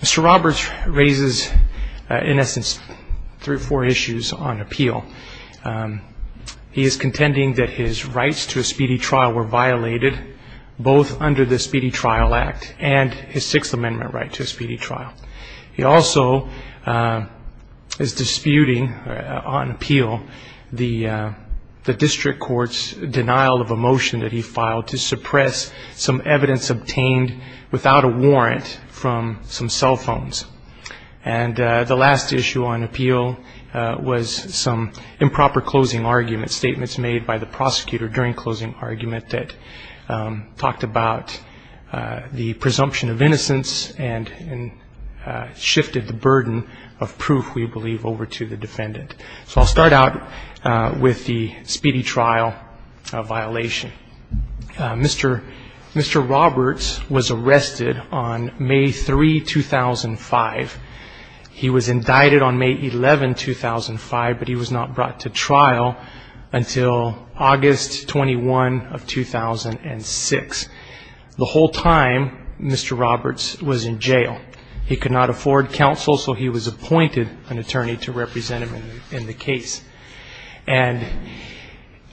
Mr. Roberts raises in essence three or four issues on appeal. He is contending that his rights to a speedy trial were violated, both under the speedy trial law and under the speedy trial law. and his Sixth Amendment right to a speedy trial. He also is disputing on appeal the district court's denial of a motion that he filed to suppress some evidence obtained without a warrant from some cell phones. And the last issue on appeal was some improper closing argument, statements made by the prosecutor during closing argument that talked about his rights to a speedy trial. And the last issue on appeal was some improper closing argument, statements made by the prosecutor during closing argument that talked about his rights to a speedy trial. So I'll start out with the speedy trial violation. Mr. Roberts was arrested on May 3, 2005. He was indicted on May 11, 2005, but he was not brought to trial until August 21, 2006. At the time, Mr. Roberts was in jail. He could not afford counsel, so he was appointed an attorney to represent him in the case. And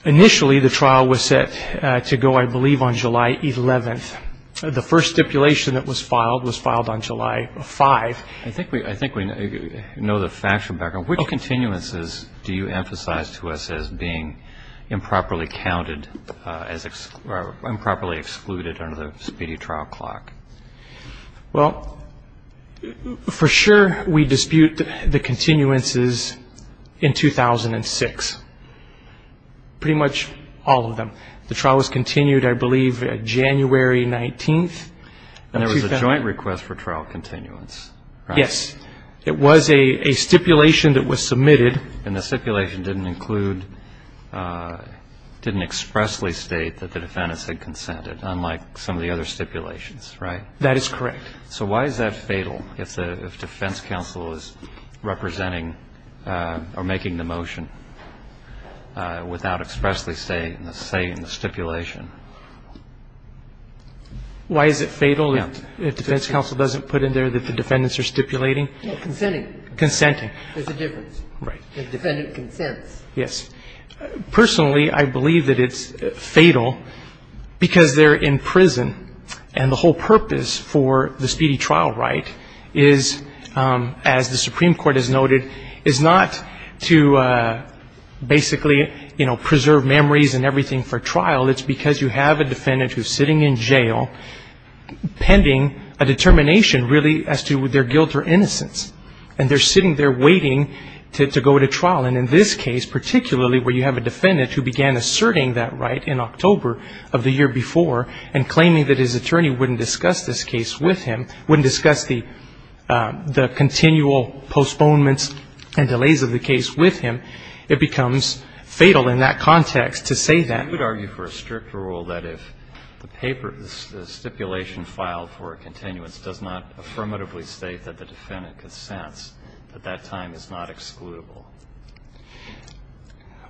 initially, the trial was set to go, I believe, on July 11. The first stipulation that was filed was filed on July 5. I think we know the factual background. Which continuances do you emphasize to us as being improperly counted as improperly excluded under the speedy trial law? And what was the date of the trial clock? Well, for sure, we dispute the continuances in 2006. Pretty much all of them. The trial was continued, I believe, January 19. And there was a joint request for trial continuance, right? Yes. It was a stipulation that was submitted. And the stipulation didn't include, didn't expressly state that the defendants had consented, unlike some of the other stipulations, right? That is correct. Why is it fatal if defense counsel doesn't put in there that the defendants are stipulating? Consenting. Consenting. There's a difference. Right. If defendant consents. Yes. Personally, I believe that it's fatal because they're in prison. And the whole purpose for the speedy trial right is, as the Supreme Court has noted, is not to basically, you know, preserve memories and everything for trial. It's because you have a defendant who's sitting in jail pending a determination, really, as to their guilt or innocence. And they're sitting there waiting to go to trial. And in this case, particularly, where you have a defendant who began asserting that right in October of the year before and claiming that his attorney wouldn't discuss this case with him, wouldn't discuss the continual postponements and delays of the case with him, it becomes fatal in that context to say that. I would argue for a strict rule that if the paper, the stipulation filed for a continuance does not affirmatively state that the defendant consents, that that time is not excludable.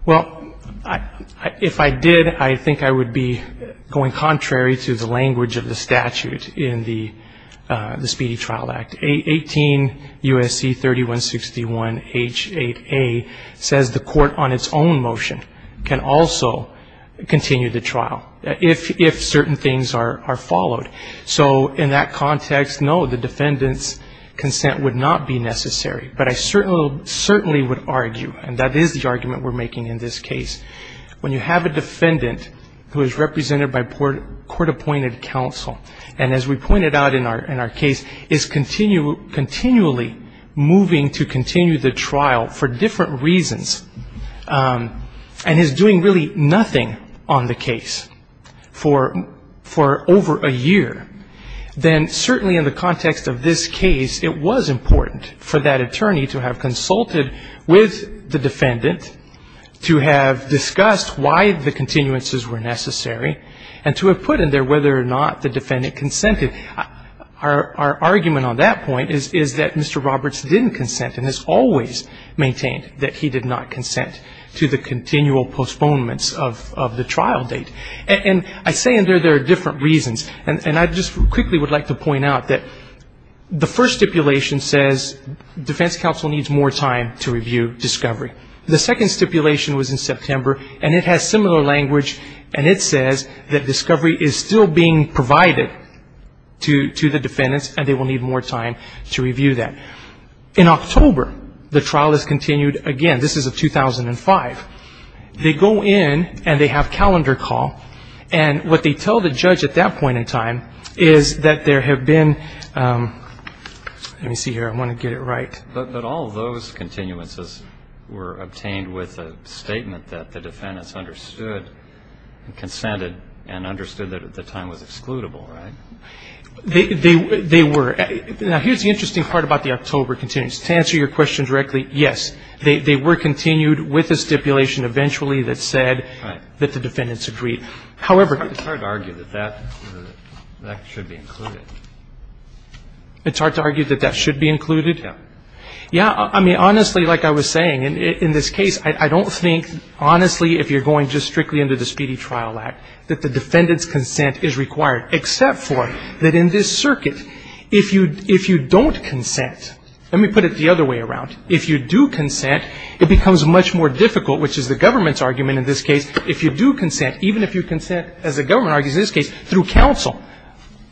Well, if I did, I think I would be going contrary to the language of the statute in the Speedy Trial Act. 18 U.S.C. 3161 H. 8a says the court on its own motion can also continue the trial if certain things are followed. So in that context, no, the defendant's consent would not be necessary. But I certainly would argue, and that is the argument we're making in this case, when you have a defendant who is represented by court-appointed counsel, and as we pointed out in our case, is continually moving to continue the trial for different reasons, and is doing really nothing on the case. If the defendant has not consented for over a year, then certainly in the context of this case, it was important for that attorney to have consulted with the defendant, to have discussed why the continuances were necessary, and to have put in there whether or not the defendant consented. Our argument on that point is that Mr. Roberts didn't consent and has always maintained that he did not consent to the continual postponements of the trial date. And I say in there there are different reasons, and I just quickly would like to point out that the first stipulation says defense counsel needs more time to review discovery. The second stipulation was in September, and it has similar language, and it says that discovery is still being provided to the defendants, and they will need more time to review that. In October, the trial is continued again. This is of 2005. They go in, and they have calendar call, and what they tell the judge at that point in time is that there have been, let me see here, I want to get it right. But all those continuances were obtained with a statement that the defendants understood, consented, and understood that at the time was excludable, right? Now, here's the interesting part about the October continuance. To answer your question directly, yes, they were continued with a stipulation eventually that said that the defendants agreed. However, it's hard to argue that that should be included. It's hard to argue that that should be included? Yeah, I mean, honestly, like I was saying, in this case, I don't think, honestly, if you're going just strictly under the Speedy Trial Act, that the defendants consent is required, except for that in this circuit, if you don't consent, let me put it the other way around. If you do consent, it becomes much more difficult, which is the government's argument in this case. If you do consent, even if you consent, as the government argues in this case, through counsel,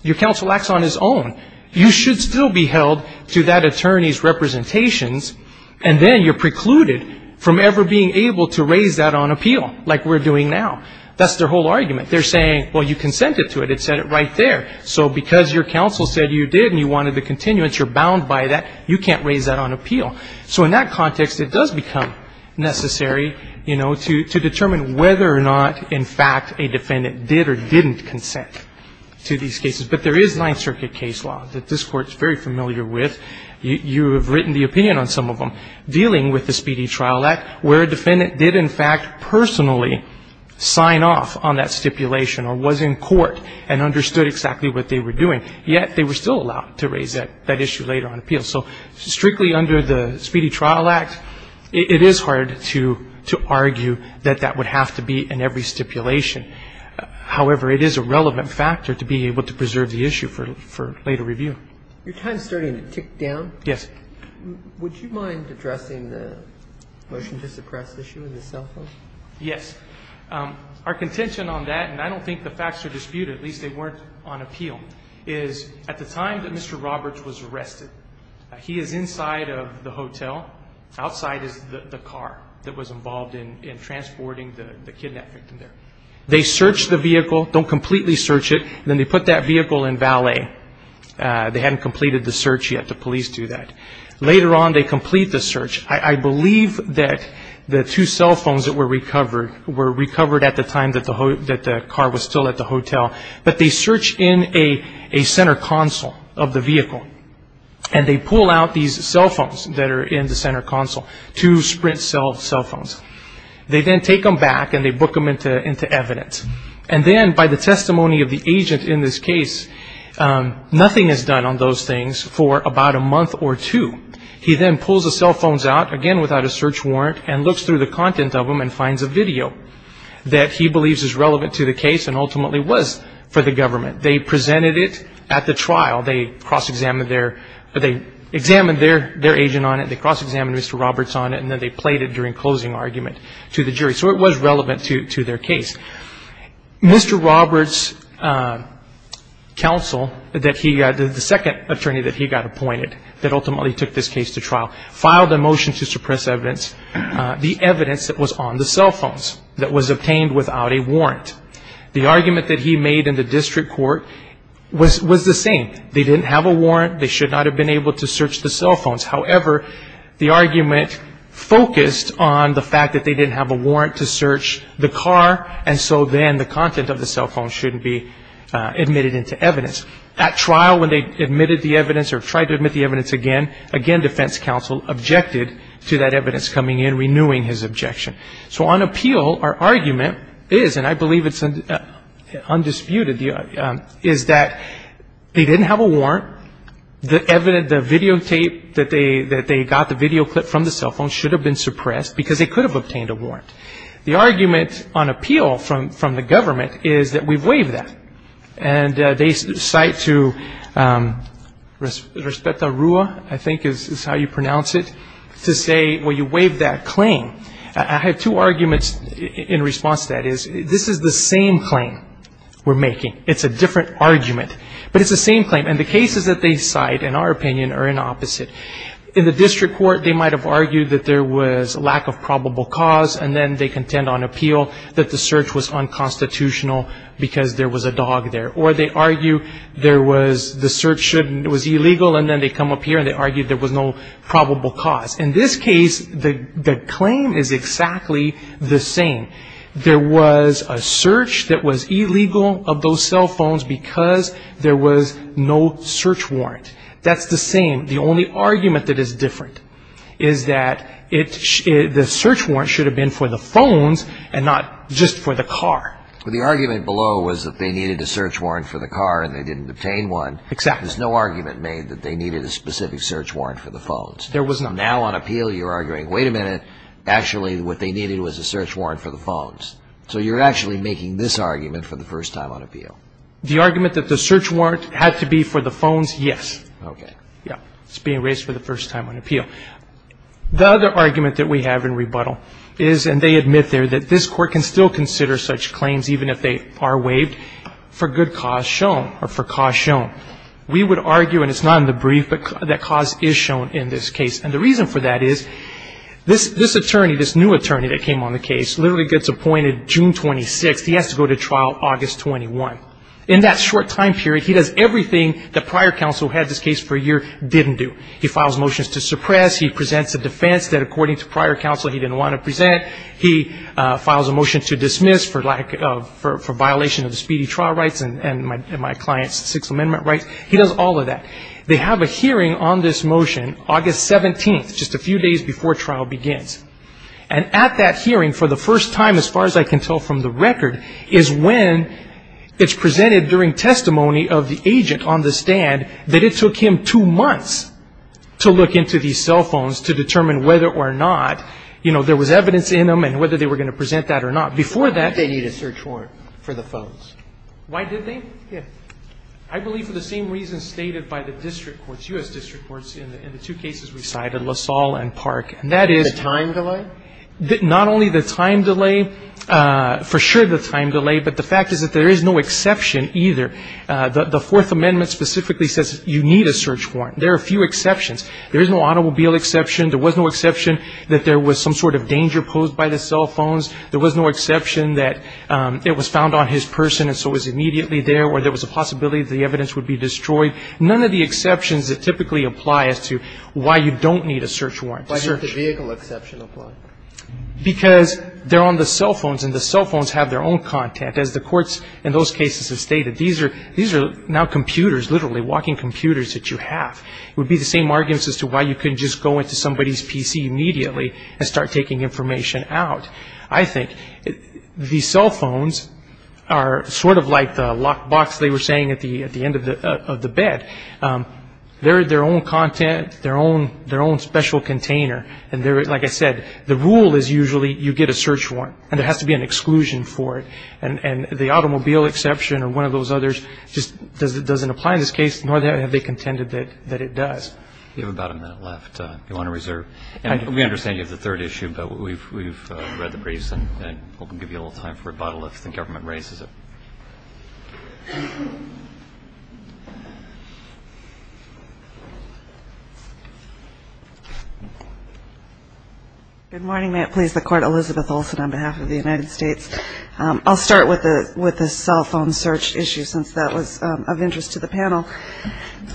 your counsel acts on his own, you should still be held to that attorney's representations, and then you're precluded from ever being able to raise that on appeal, like we're doing now. That's their whole argument. They're saying, well, you consented to it, it said it right there, so because your counsel said you did and you wanted the continuance, you're bound by that, you can't raise that on appeal. So in that context, it does become necessary, you know, to determine whether or not, in fact, a defendant did or didn't consent to these cases. But there is Ninth Circuit case law that this Court is very familiar with. You have written the opinion on some of them, dealing with the Speedy Trial Act, where a defendant did, in fact, personally sign off on that stipulation or was in court and understood exactly what they were doing, yet they were still allowed to raise that issue later on appeal. So strictly under the Speedy Trial Act, it is hard to argue that that would have to be in every stipulation. However, it is a relevant factor to be able to preserve the issue for later review. Your time is starting to tick down. Yes. Would you mind addressing the motion to suppress issue in the cell phone? Yes. Our contention on that, and I don't think the facts are disputed, at least they weren't on appeal, is at the time that Mr. Roberts was arrested, he is inside of the hotel, outside is the car that was involved in transporting the kidnapped victim there. They search the vehicle, don't completely search it, and then they put that vehicle in valet. They hadn't completed the search yet. The police do that. Later on, they complete the search. I believe that the two cell phones that were recovered were recovered at the time that the car was still at the hotel, but they search in a center console of the vehicle, and they pull out these cell phones that are in the center console, two Sprint cell phones. They then take them back, and they book them into evidence, and then by the testimony of the agent in this case, nothing is done on those things for about a month or two. He then pulls the cell phones out, again, without a search warrant, and looks through the content of them and finds a video that he believes is relevant to the case and ultimately was for the government. They presented it at the trial. They cross-examined their agent on it, they cross-examined Mr. Roberts on it, and then they played it during closing argument to the jury, so it was relevant to their case. Mr. Roberts' counsel, the second attorney that he got appointed that ultimately took this case to trial, filed a motion to suppress evidence, the evidence that was on the cell phones that was obtained without a warrant. The argument that he made in the district court was the same. They didn't have a warrant. They should not have been able to search the cell phones. However, the argument focused on the fact that they didn't have a warrant to search the car, and so then the content of the cell phone shouldn't be admitted into evidence. At trial, when they admitted the evidence or tried to admit the evidence again, again, defense counsel objected to that evidence coming in, renewing his objection. So on appeal, our argument is, and I believe it's undisputed, is that they didn't have a warrant. The evidence, the videotape that they got, the videoclip from the cell phone should have been suppressed because they could have obtained a warrant. The argument on appeal from the government is that we've waived that, and they cite to Respeta Rua, I think is how you pronounce it, to say, well, you waived that claim. I have two arguments in response to that. This is the same claim we're making. It's a different argument, but it's the same claim, and the cases that they cite, in our opinion, are in opposite. In the district court, they might have argued that there was lack of probable cause, and then they contend on appeal that the search was unconstitutional because there was a dog there. Or they argue there was, the search was illegal, and then they come up here, and they argue there was no probable cause. In this case, the claim is exactly the same. There was a search that was illegal of those cell phones because there was no search warrant. That's the same. The only argument that is different is that the search warrant should have been for the phones and not just for the car. The argument below was that they needed a search warrant for the car, and they didn't obtain one. Exactly. There's no argument made that they needed a specific search warrant for the phones. There was none. Now on appeal, you're arguing, wait a minute, actually what they needed was a search warrant for the phones. So you're actually making this argument for the first time on appeal. The argument that the search warrant had to be for the phones, yes. Okay. Yeah. It's being raised for the first time on appeal. The other argument that we have in rebuttal is, and they admit there, that this court can still consider such claims, even if they are waived, for good cause shown, or for cause shown. We would argue, and it's not in the brief, that cause is shown in this case. And the reason for that is, this attorney, this new attorney that came on the case, literally gets appointed June 26th. He has to go to trial August 21. In that short time period, he does everything that prior counsel had this case for a year didn't do. He files motions to suppress. He presents a defense that, according to prior counsel, he didn't want to present. He files a motion to dismiss for violation of the speedy trial rights and my client's Sixth Amendment rights. He does all of that. They have a hearing on this motion. August 17th, just a few days before trial begins. And at that hearing, for the first time, as far as I can tell from the record, is when it's presented during testimony of the agent on the stand that it took him two months to look into these cell phones to determine whether or not, you know, there was evidence in them and whether they were going to present that or not. Before that, they need a search warrant for the phones. Why did they? I believe for the same reasons stated by the district courts, U.S. district courts in the two cases we cited, LaSalle and Park. And that is... The time delay? Not only the time delay, for sure the time delay, but the fact is that there is no exception either. The Fourth Amendment specifically says you need a search warrant. There are a few exceptions. There is no automobile exception. There was no exception that there was some sort of danger posed by the cell phones. There was no exception that it was found on his person and so it was immediately there or there was a possibility that the evidence would be destroyed. None of the exceptions that typically apply as to why you don't need a search warrant. Why didn't the vehicle exception apply? Because they're on the cell phones and the cell phones have their own content. As the courts in those cases have stated, these are now computers, literally walking computers that you have. It would be the same arguments as to why you couldn't just go into somebody's PC immediately and start taking information out. I think the cell phones are sort of like the lock box they were saying at the end of the bed. They're their own content, their own special container. Like I said, the rule is usually you get a search warrant and there has to be an exclusion for it. The automobile exception or one of those others just doesn't apply in this case nor have they contended that it does. You have about a minute left if you want to reserve. We understand you have the third issue, but we've read the briefs and we'll give you a little time for rebuttal if the government raises it. Good morning. May it please the Court. Elizabeth Olson on behalf of the United States. I'll start with the cell phone search issue since that was of interest to the panel.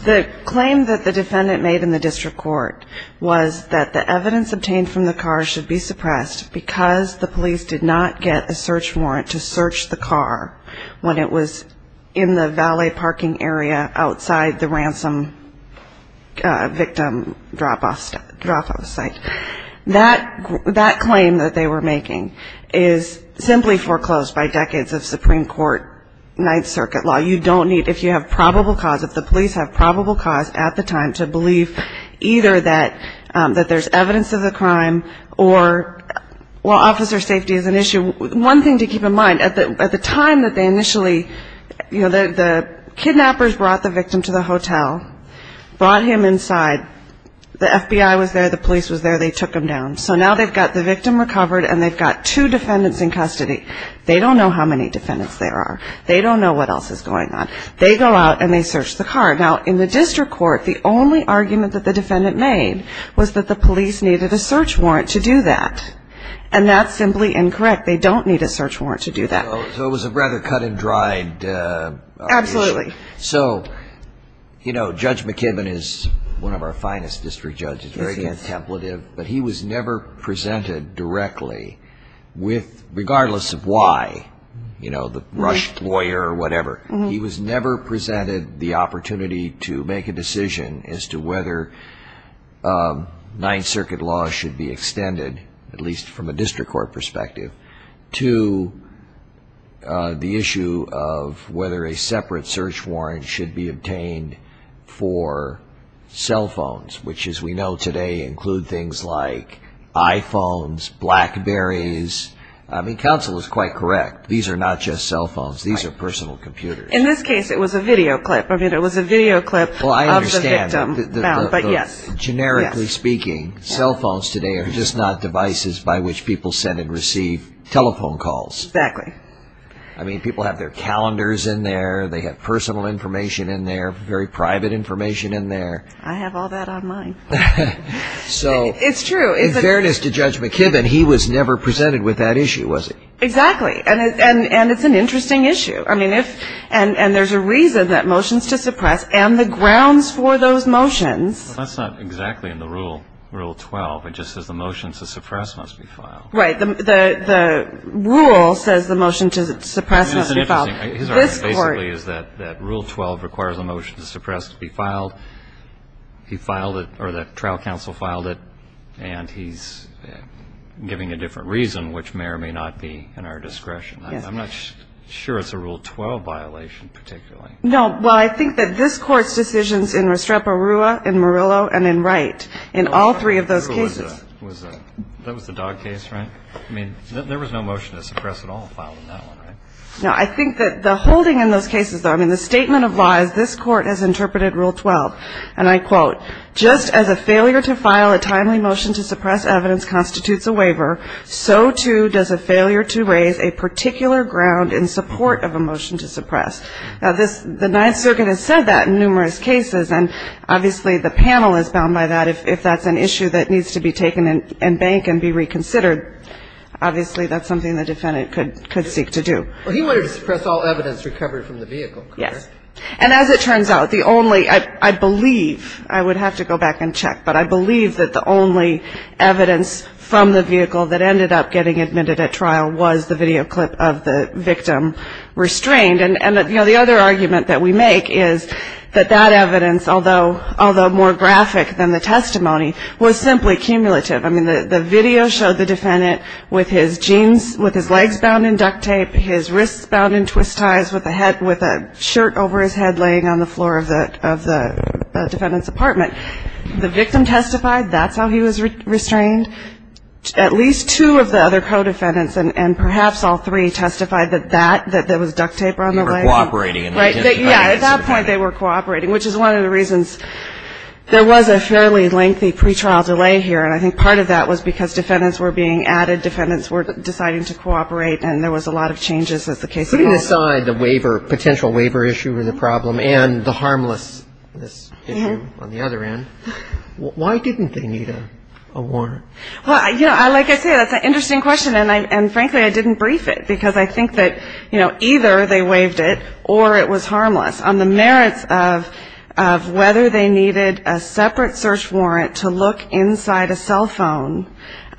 The claim that the defendant made in the district court was that the evidence obtained from the car should be suppressed because the police did not get a search warrant to search the car when it was in the valet parking area outside the ransom victim drop-off site. That claim that they were making is simply foreclosed by decades of Supreme Court Ninth Circuit law. You don't need, if you have probable cause, if the police have probable cause at the time to believe either that there's evidence of the crime or, well, officer safety is an issue. One thing to keep in mind, at the time that they initially, you know, the kidnappers brought the victim to the hotel, brought him inside, the FBI was there, the police was there, they took him down. So now they've got the victim recovered and they've got two defendants in custody. They don't know how many defendants there are. They don't know what else is going on. They go out and they search the car. Now, in the district court, the only argument that the defendant made was that the police needed a search warrant to do that. And that's simply incorrect. They don't need a search warrant to do that. So it was a rather cut-and-dried issue. Absolutely. So, you know, Judge McKibben is one of our finest district judges, very contemplative, but he was never presented directly with, regardless of why, you know, the rushed lawyer or whatever, he was never presented the opportunity to make a decision as to whether Ninth Circuit laws should be extended, at least from a district court perspective, to the issue of whether a separate search warrant should be obtained for cell phones, which, as we know today, include things like iPhones, BlackBerries. I mean, counsel is quite correct. These are not just cell phones. These are personal computers. In this case, it was a video clip. I mean, it was a video clip of the victim. Well, I understand. But yes. Generically speaking, cell phones today are just not devices by which people send and receive telephone calls. Exactly. I mean, people have their calendars in there. They have personal information in there, very private information in there. I have all that online. It's true. In fairness to Judge McKibben, he was never presented with that issue, was he? Exactly. And it's an interesting issue. And there's a reason that motions to suppress and the grounds for those motions. That's not exactly in the Rule 12. It just says the motions to suppress must be filed. Right. The rule says the motion to suppress must be filed. His argument basically is that Rule 12 requires a motion to suppress to be filed. He filed it, or the trial counsel filed it, and he's giving a different reason, which may or may not be in our discretion. I'm not sure it's a Rule 12 violation particularly. No. Well, I think that this Court's decisions in Restrepo Rua, in Murillo, and in Wright, in all three of those cases. That was the Dog case, right? I mean, there was no motion to suppress at all filed in that one, right? No. I think that the holding in those cases, though, I mean, the statement of law is this Court has interpreted Rule 12. And I quote, Now, the Ninth Circuit has said that in numerous cases. And obviously, the panel is bound by that. If that's an issue that needs to be taken and bank and be reconsidered, obviously, that's something the defendant could seek to do. Well, he wanted to suppress all evidence recovered from the vehicle. Yes. And as it turns out, And I think that the court has said that. And I think that the court has said that. And I don't have to go back and check. But I believe that the only evidence from the vehicle that ended up getting admitted at trial was the video clip of the victim restrained. And the other argument that we make is that that evidence, although more graphic than the testimony, was simply cumulative. I mean, the video showed the defendant with his jeans, with his legs bound in duct tape, his wrists bound in twist ties, with a shirt over his head laying on the floor of the defendant's apartment. The victim testified. That's how he was restrained. At least two of the other co-defendants and perhaps all three testified that that was duct tape on the leg. They were cooperating. At that point, they were cooperating, which is one of the reasons there was a fairly lengthy pretrial delay here. And I think part of that was because defendants were being added. Defendants were deciding to cooperate and there was a lot of changes as the case evolved. Putting aside the waiver, potential waiver issue with the problem and the harmlessness issue on the other end, why didn't they need a warrant? Well, like I said, that's an interesting question and frankly I didn't brief it because I think that either they waived it or it was harmless. On the merits of whether they needed a separate search warrant to look inside a cell phone.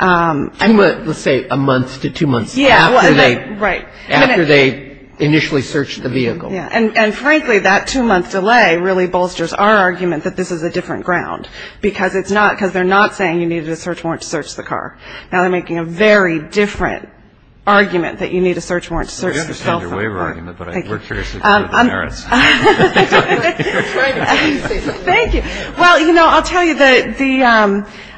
Let's say a month to two months after they initially searched the vehicle. And frankly that two month delay really bolsters our argument that this is a different ground because they're not saying you needed a search warrant to search the car. Now they're making a very different argument that you need a search warrant to search the cell phone. Thank you. Well, you know, I'll tell you,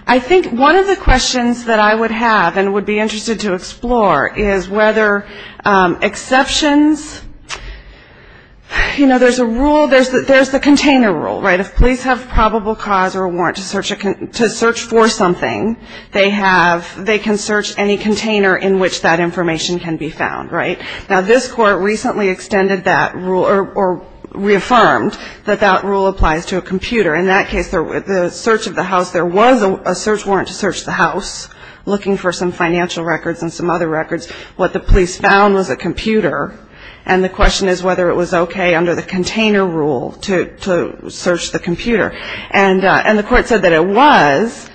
I think one of the questions that I would have and would be interested to explore is whether exceptions you know, there's a rule, there's the container rule. If police have probable cause or warrant to search for something they can search any container in which that information can be found. Now this court recently extended that rule or reaffirmed that that rule applies to a computer. In that case, the search of the house, there was a search warrant to search the house looking for some financial records and some other records. What the police found was a computer and the question is whether it was okay under the container rule to search the computer. And the court said that it was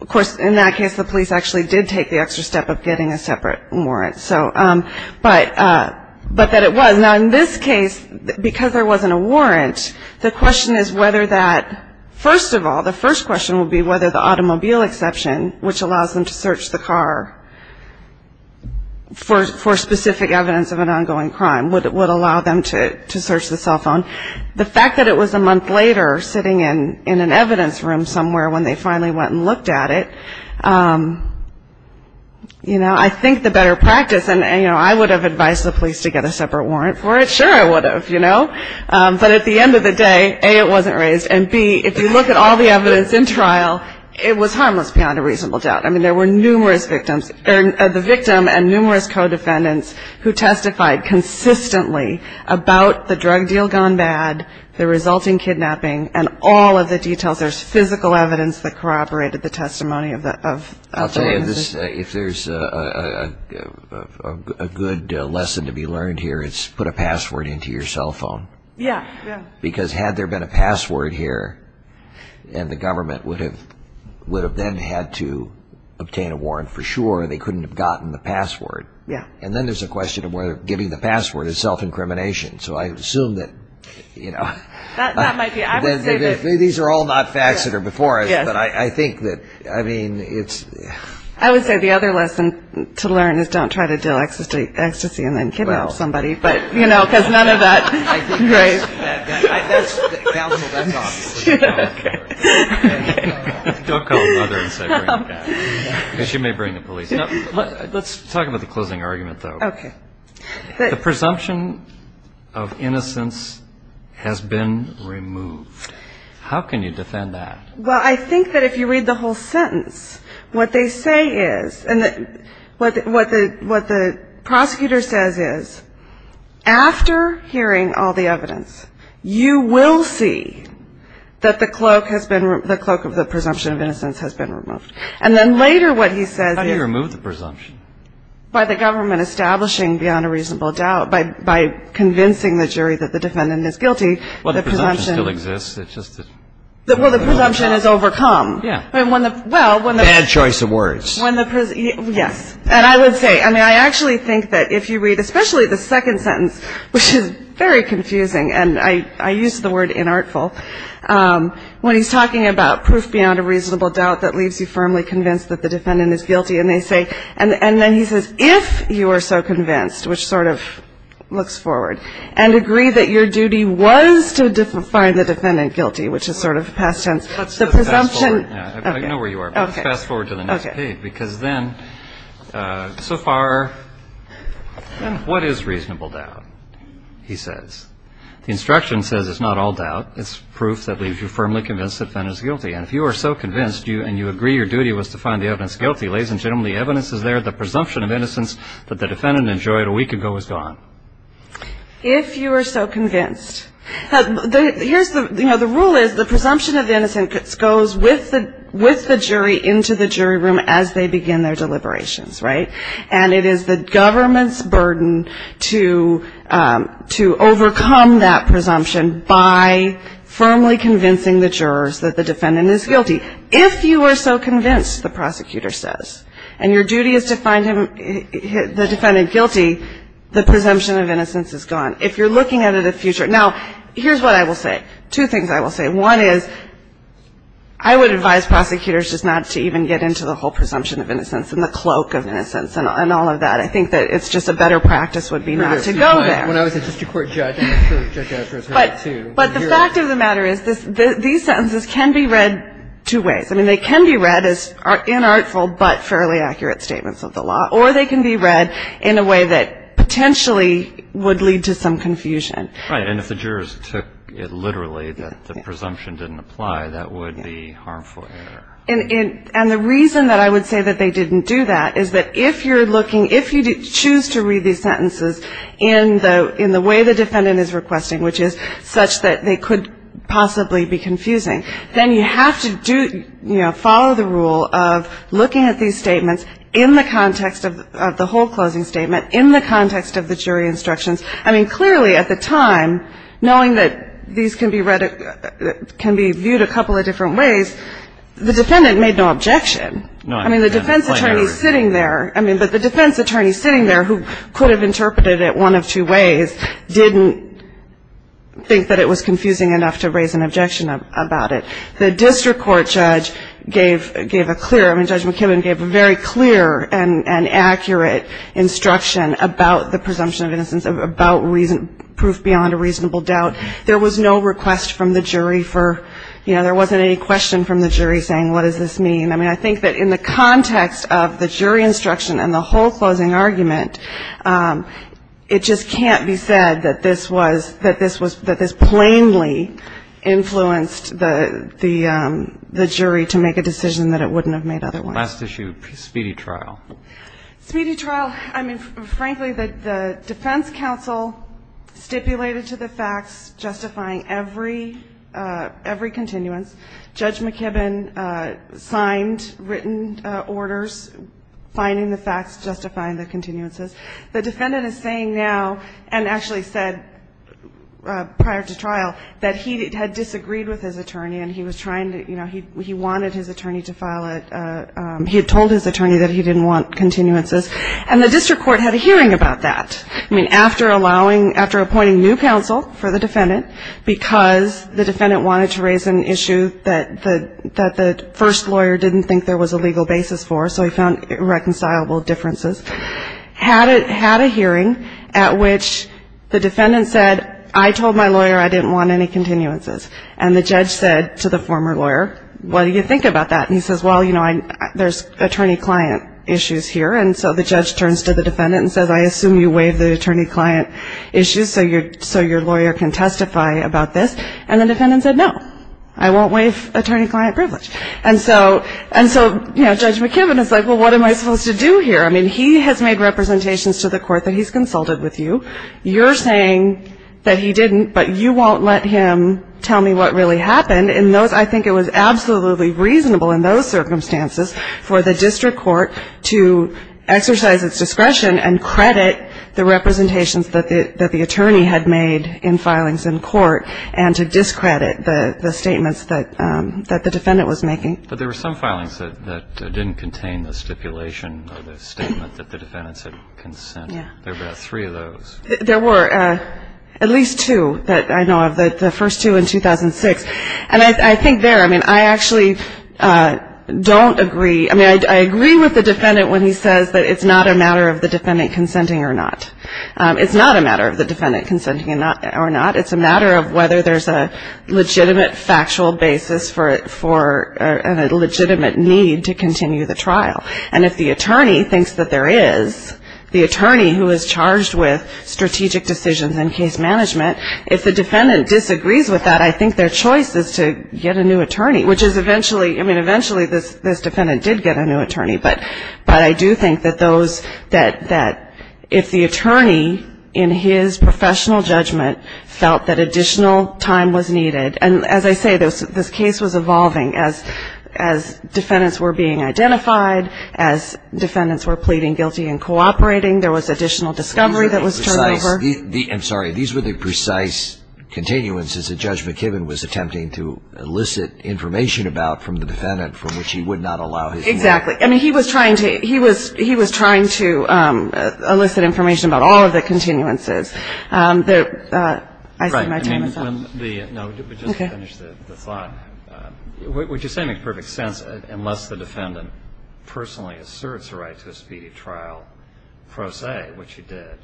of course in that case the police actually did take the extra step of getting a separate warrant. But that it was. Now in this case because there wasn't a warrant the question is whether that first of all, the first question would be whether the automobile exception which allows them to search the car for specific evidence of an ongoing crime would allow them to search the cell phone. The fact that it was a month later sitting in an evidence room somewhere when they finally went and looked at it you know, I think the better practice and I would have advised the police to get a separate warrant for it sure I would have, you know but at the end of the day A, it wasn't raised and B, if you look at all the evidence in trial it was harmless beyond a reasonable doubt I mean there were numerous victims the victim and numerous co-defendants who testified consistently about the drug deal gone bad the resulting kidnapping and all of the details there's physical evidence that corroborated the testimony I'll tell you if there's a good lesson to be learned here it's put a password into your cell phone because had there been a password here and the government would have then had to obtain a warrant for sure, they couldn't have gotten the password, and then there's a question of whether giving the password is self-incrimination so I assume that you know these are all not facts that are before us but I think that I would say the other lesson to learn is don't try to deal ecstasy and then kidnap somebody because none of that I think that's that's obvious don't call the mother and say bring the cat because she may bring the police let's talk about the closing argument though the presumption of innocence has been removed how can you defend that? well I think that if you read the whole sentence what they say is what the prosecutor says is after hearing all the evidence you will see that the cloak of the presumption of innocence has been removed how do you remove the presumption? by the government establishing beyond a reasonable doubt by convincing the jury that the defendant is guilty well the presumption still exists well the presumption is overcome bad choice of words yes and I would say I actually think that if you read especially the second sentence which is very confusing and I use the word inartful when he's talking about proof beyond a reasonable doubt that leaves you firmly convinced that the defendant is guilty and then he says if you are so convinced which sort of looks forward and agree that your duty was to find the defendant guilty which is sort of past tense let's fast forward to the next page because then so far what is reasonable doubt? he says the instruction says it's not all doubt it's proof that leaves you firmly convinced that the defendant is guilty and if you are so convinced and you agree your duty was to find the evidence guilty ladies and gentlemen the evidence is there the presumption of innocence that the defendant enjoyed a week ago is gone if you are so convinced the rule is the presumption of innocence goes with the jury into the jury room as they begin their deliberations and it is the government's burden to overcome that presumption by firmly convincing the jurors that the defendant is guilty if you are so convinced the prosecutor says and your duty is to find him the defendant guilty the presumption of innocence is gone if you're looking at it a future now here's what I will say two things I will say one is I would advise prosecutors just not to even get into the whole presumption of innocence and the cloak of innocence and all of that two ways they can be read as inartful but fairly accurate statements of the law or they can be read in a way that potentially would lead to some confusion and if the jurors took it literally that the presumption didn't apply that would be harmful and the reason that I would say that they didn't do that is that if you choose to read these sentences in the way the defendant is requesting which is such that they could possibly be confusing then you have to follow the rule of looking at these statements in the context of the whole closing statement in the context of the jury instructions I mean clearly at the time knowing that these can be read can be viewed a couple of different ways the defendant made no objection I mean the defense attorney sitting there but the defense attorney sitting there who could have interpreted it one of two ways didn't think that it was confusing enough to raise an objection about it the district court judge gave a clear a very clear and accurate instruction about the presumption of innocence about proof beyond a reasonable doubt there was no request from the jury there wasn't any question from the jury saying what does this mean I think that in the context of the jury instruction and the whole closing argument it just can't be said that this was that this plainly influenced the jury to make a decision that it wouldn't have made otherwise Last issue, speedy trial I mean frankly the defense counsel stipulated to the facts justifying every continuance Judge McKibben signed written orders finding the facts justifying the continuances the defendant is saying now and actually said prior to trial that he had disagreed with his attorney he wanted his attorney to file he had told his attorney that he didn't want continuances and the district court had a hearing about that after allowing after appointing new counsel for the defendant because the defendant wanted to raise an issue that the first lawyer didn't think there was a legal basis for so he found irreconcilable differences had a hearing at which the defendant said I told my lawyer I didn't want any continuances and the judge said to the former lawyer what do you think about that and he says well you know there's attorney client issues here and so the judge turns to the defendant and says I assume you waive the attorney client issues so your lawyer can testify about this and the defendant said no I won't waive attorney client privilege and so Judge McKibben is like well what am I supposed to do here I mean he has made representations to the court that he's consulted with you you're saying that he didn't but you won't let him tell me what really happened and I think it was absolutely reasonable in those circumstances for the district court to exercise its discretion and credit the representations that the attorney had made in filings in court and to discredit the statements that the defendant was making but there were some filings that didn't contain the stipulation or the statement that the defendant said consent there were about three of those there were at least two that I know of, the first two in 2006 and I think there I actually don't agree, I mean I agree with the defendant when he says that it's not a matter of the defendant consenting or not it's not a matter of the defendant consenting or not, it's a matter of whether there's a legitimate factual basis for a legitimate need to continue the trial and if the attorney thinks that there is the attorney who is charged with strategic decisions and case management if the defendant disagrees with that I think their choice is to get a new attorney which is eventually, I mean eventually this defendant did get a new attorney but I do think that those that if the attorney in his professional judgment felt that additional time was needed, and as I say this case was evolving as defendants were being identified as defendants were pleading guilty and cooperating, there was additional discovery that was turned over I'm sorry, these were the precise continuances that Judge McKibben was attempting to elicit information about from the defendant from which he would not allow Exactly, I mean he was trying to he was trying to elicit information about all of the continuances I see my time is up No, just finish the thought Would you say it makes perfect sense unless the defendant personally asserts the right to a speedy trial pro se, which he did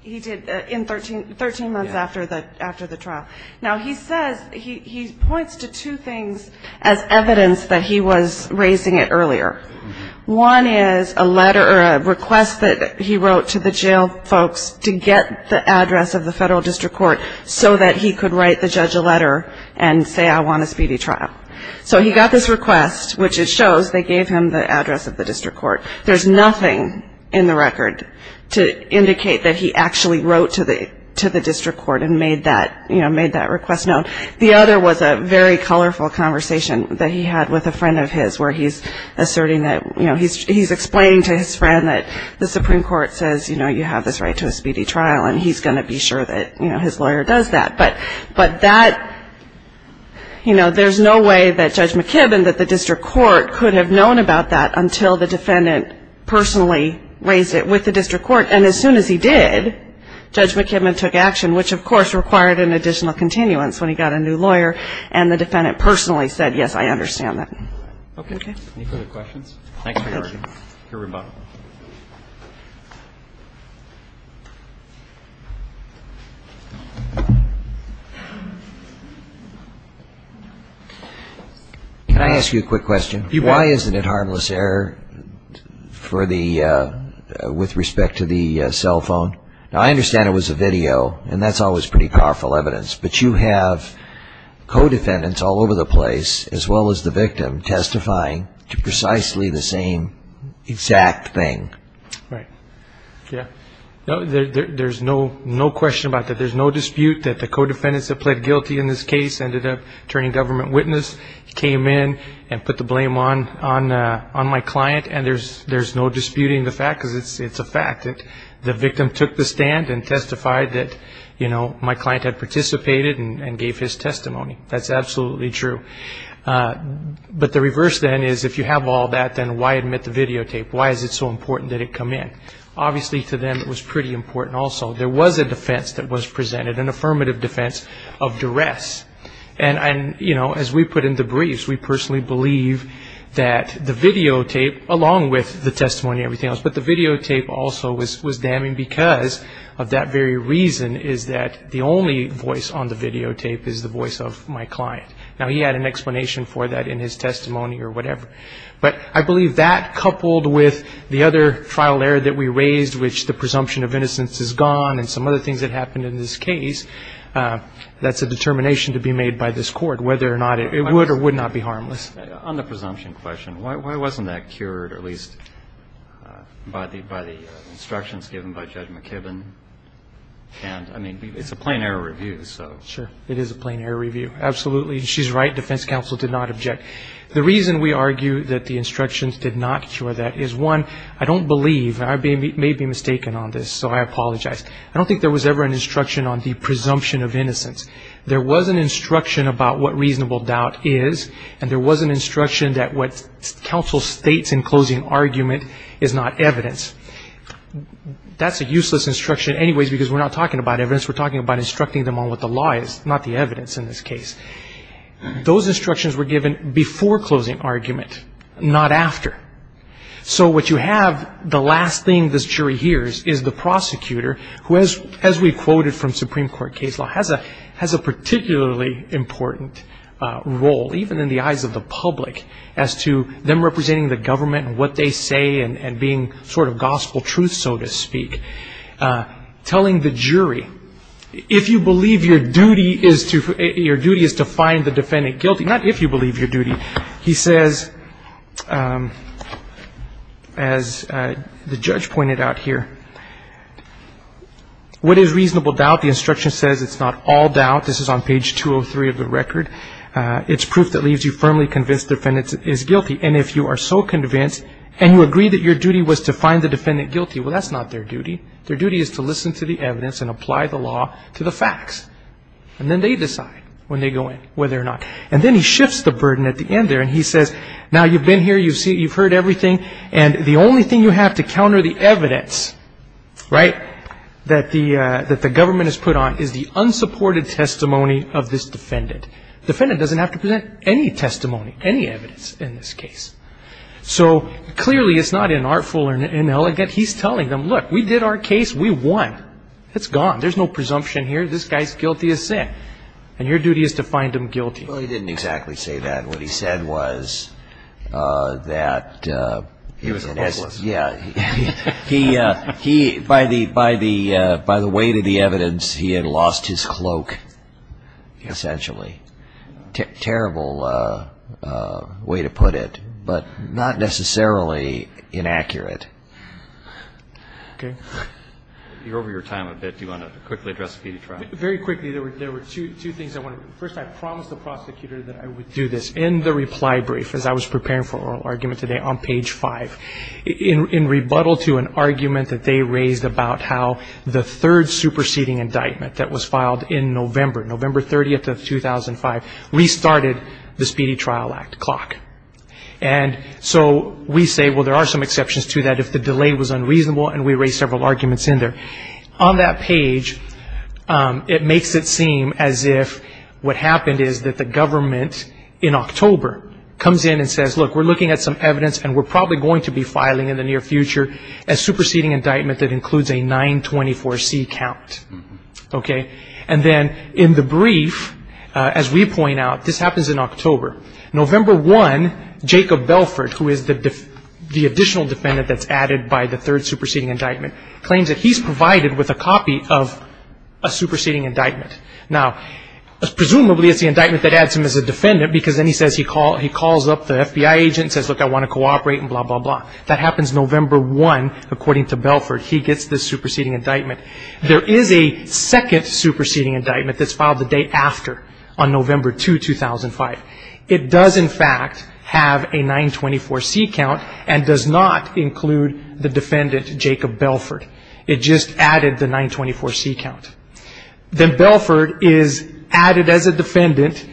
He did in 13 months after the trial Now he says, he points to two things as evidence that he was raising it earlier One is a letter or a request that he wrote to the jail folks to get the address of the federal district court so that he could write the judge a letter and say I want a speedy trial So he got this request, which it shows they gave him the address of the district court There's nothing in the record to indicate that he actually wrote to the district court and made that request known The other was a very colorful conversation that he had with a friend of his where he's asserting that he's explaining to his friend that the Supreme Court says you have this right to a speedy trial and he's going to be sure that his lawyer does that but that there's no way that Judge McKibben that the district court could have known about that until the defendant personally raised it with the district court and as soon as he did Judge McKibben took action, which of course required an additional continuance when he got a new lawyer and the defendant personally said yes, I understand that Any further questions? Thanks for your time Can I ask you a quick question? Why is it harmless error for the with respect to the cell phone? Now I understand it was a video and that's always pretty powerful evidence but you have co-defendants all over the place as well as the victim testifying to precisely the same exact thing Right There's no question about that. There's no dispute that the co-defendants that pled guilty in this case ended up turning government witness came in and put the blame on my client and there's no disputing the fact because it's a fact that the victim took the stand and testified that my client had participated and gave his testimony. That's absolutely true But the reverse then is if you have all that then why admit the videotape? Why is it so important that it come in? Obviously to them it was pretty important also. There was a defense that was presented. An affirmative defense of duress As we put in the briefs, we personally believe that the videotape along with the testimony and everything else, but the videotape also was damning because of that very reason is that the only voice on the videotape is the voice of my client. Now he had an explanation for that in his testimony or whatever But I believe that coupled with the other trial error that we raised which the presumption of innocence is gone and some other things that happened in this case, that's a determination to be made by this court whether or not it would or would not be harmless On the presumption question, why wasn't that cured at least by the instructions given by Judge McKibben and I mean it's a plain error review It is a plain error review She's right, defense counsel did not object The reason we argue that the instructions did not cure that is one, I don't believe, I may be mistaken on this so I apologize I don't think there was ever an instruction on the presumption of innocence. There was an instruction about what reasonable doubt is and there was an instruction that what counsel states in closing argument is not evidence That's a useless instruction anyways because we're not talking about evidence, we're talking about instructing them on what the law is, not the evidence in this case Those instructions were given before closing argument not after. So what you have, the last thing this jury hears is the prosecutor who as we quoted from Supreme Court case law has a particularly important role even in the eyes of the public as to them representing the government and what they say and being sort of gospel truth so to speak telling the jury if you believe your duty is to find the defendant guilty, not if you believe your duty, he says as the judge pointed out here what is reasonable doubt, the instruction says it's not all doubt, this is on page 203 of the record it's proof that leaves you firmly convinced the defendant is guilty and if you are so convinced and you agree that your duty was to find the defendant guilty, well that's not their duty their duty is to listen to the evidence and apply the law to the facts and then they decide when they go in whether or not, and then he shifts the burden at the end there and he says, now you've been here you've heard everything and the only thing you have to counter the evidence right, that the government has put on is the unsupported testimony of this defendant. Defendant doesn't have to present any testimony, any evidence in this case. So clearly it's not inartful or inelegant he's telling them, look we did our case we won, it's gone, there's no presumption here, this guy's guilty as said and your duty is to find him guilty well he didn't exactly say that, what he said was that yeah he, by the weight of the evidence, he had lost his cloak essentially, terrible way to put it but not necessarily inaccurate okay you're over your time a bit, do you want to quickly address Speedy Trial? very quickly, there were two things I wanted to, first I promised the prosecutor that I would do this, in the reply brief as I was preparing for oral argument today on page 5, in rebuttal to an argument that they raised about how the third superseding indictment that was filed in November, November 30th of 2005 restarted the Speedy Trial Act and so we say, well there are some exceptions to that if the delay was unreasonable and we raised several arguments in there, on that page it makes it seem as if, what happened is that the government in October, comes in and says look we're looking at some evidence and we're probably going to be filing in the near future a superseding indictment that includes a 924C count okay, and then in the brief as we point out this happens in October, November 1 Jacob Belford, who is the additional defendant that's added by the third superseding indictment claims that he's provided with a copy of a superseding indictment now, presumably it's the indictment that adds him as a defendant because he calls up the FBI agent and says look I want to cooperate and blah blah blah that happens November 1 according to Belford, he gets this superseding indictment there is a second superseding indictment that's filed the day after, on November 2, 2005 it does in fact have a 924C count and does not include the defendant, Jacob Belford it just added the 924C count then Belford is added as a defendant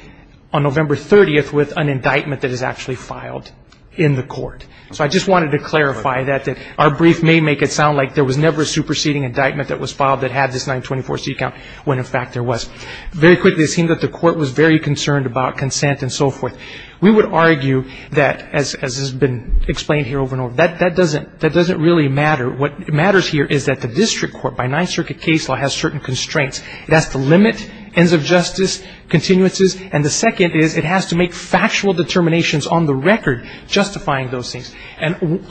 on November 30th with an indictment that is actually filed in the court, so I just wanted to clarify that our brief may make it sound like there was never a superseding indictment that was filed that had this 924C count when in fact there was very quickly it seemed that the court was very concerned about consent and so forth we would argue that, as has been explained here over and over that doesn't really matter what matters here is that the district court by 9th Circuit case law has certain constraints it has to limit ends of justice continuances, and the second is it has to make factual determinations on the record justifying those things and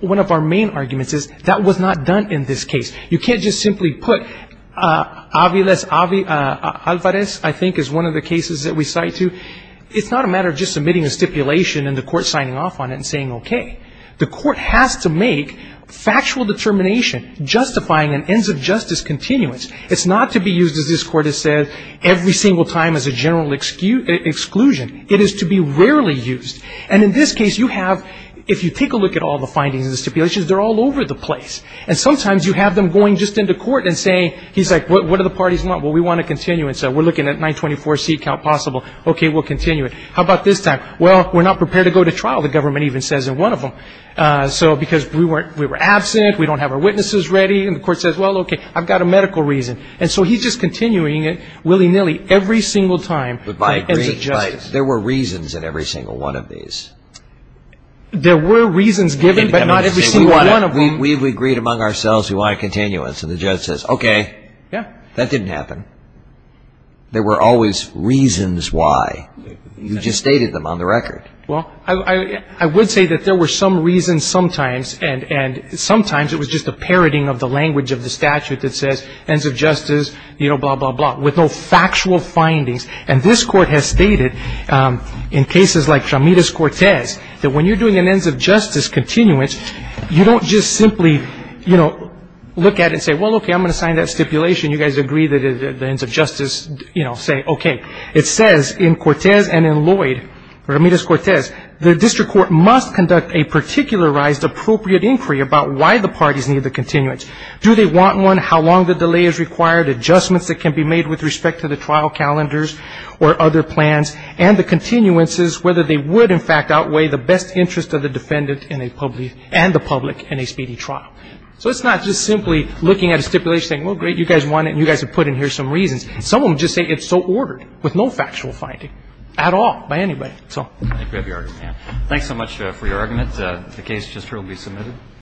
one of our main arguments is that was not done in this case you can't just simply put Alvarez I think is one of the cases that we cite it's not a matter of just submitting a stipulation and the court signing off on it and saying okay, the court has to make factual determination justifying an ends of justice continuance, it's not to be used as this court has said every single time as a general exclusion it is to be rarely used and in this case you have, if you take a look at all the findings and stipulations, they're all over the place, and sometimes you have them going just into court and saying what do the parties want, we want to continue we're looking at 924 seat count possible okay, we'll continue it, how about this time well, we're not prepared to go to trial, the government even says in one of them, so because we were absent, we don't have our witnesses ready, and the court says, well okay, I've got a medical reason, and so he's just continuing it willy nilly every single time there were reasons in every single one of these there were reasons we've agreed among ourselves we want a continuance and the judge says, okay that didn't happen there were always reasons why you just stated them on the record well, I would say that there were some reasons sometimes and sometimes it was just a parroting of the language of the statute that says ends of justice, you know, blah blah blah with no factual findings and this court has stated in cases like Ramirez-Cortez that when you're doing an ends of justice continuance you don't just simply you know, look at it and say well, okay, I'm going to sign that stipulation, you guys agree that the ends of justice, you know say, okay, it says in Cortez and in Lloyd, Ramirez-Cortez the district court must conduct a particularized appropriate inquiry about why the parties need the continuance do they want one, how long the delay is required, adjustments that can be made with respect to the trial calendars or other plans, and the continuances whether they would, in fact, outweigh the best interest of the defendant and the public in a speedy trial so it's not just simply looking at a stipulation saying, well, great, you guys want it and you guys have put in here some reasons, some of them just say it's so ordered with no factual finding at all, by anybody, so thanks so much for your argument the case just heard will be submitted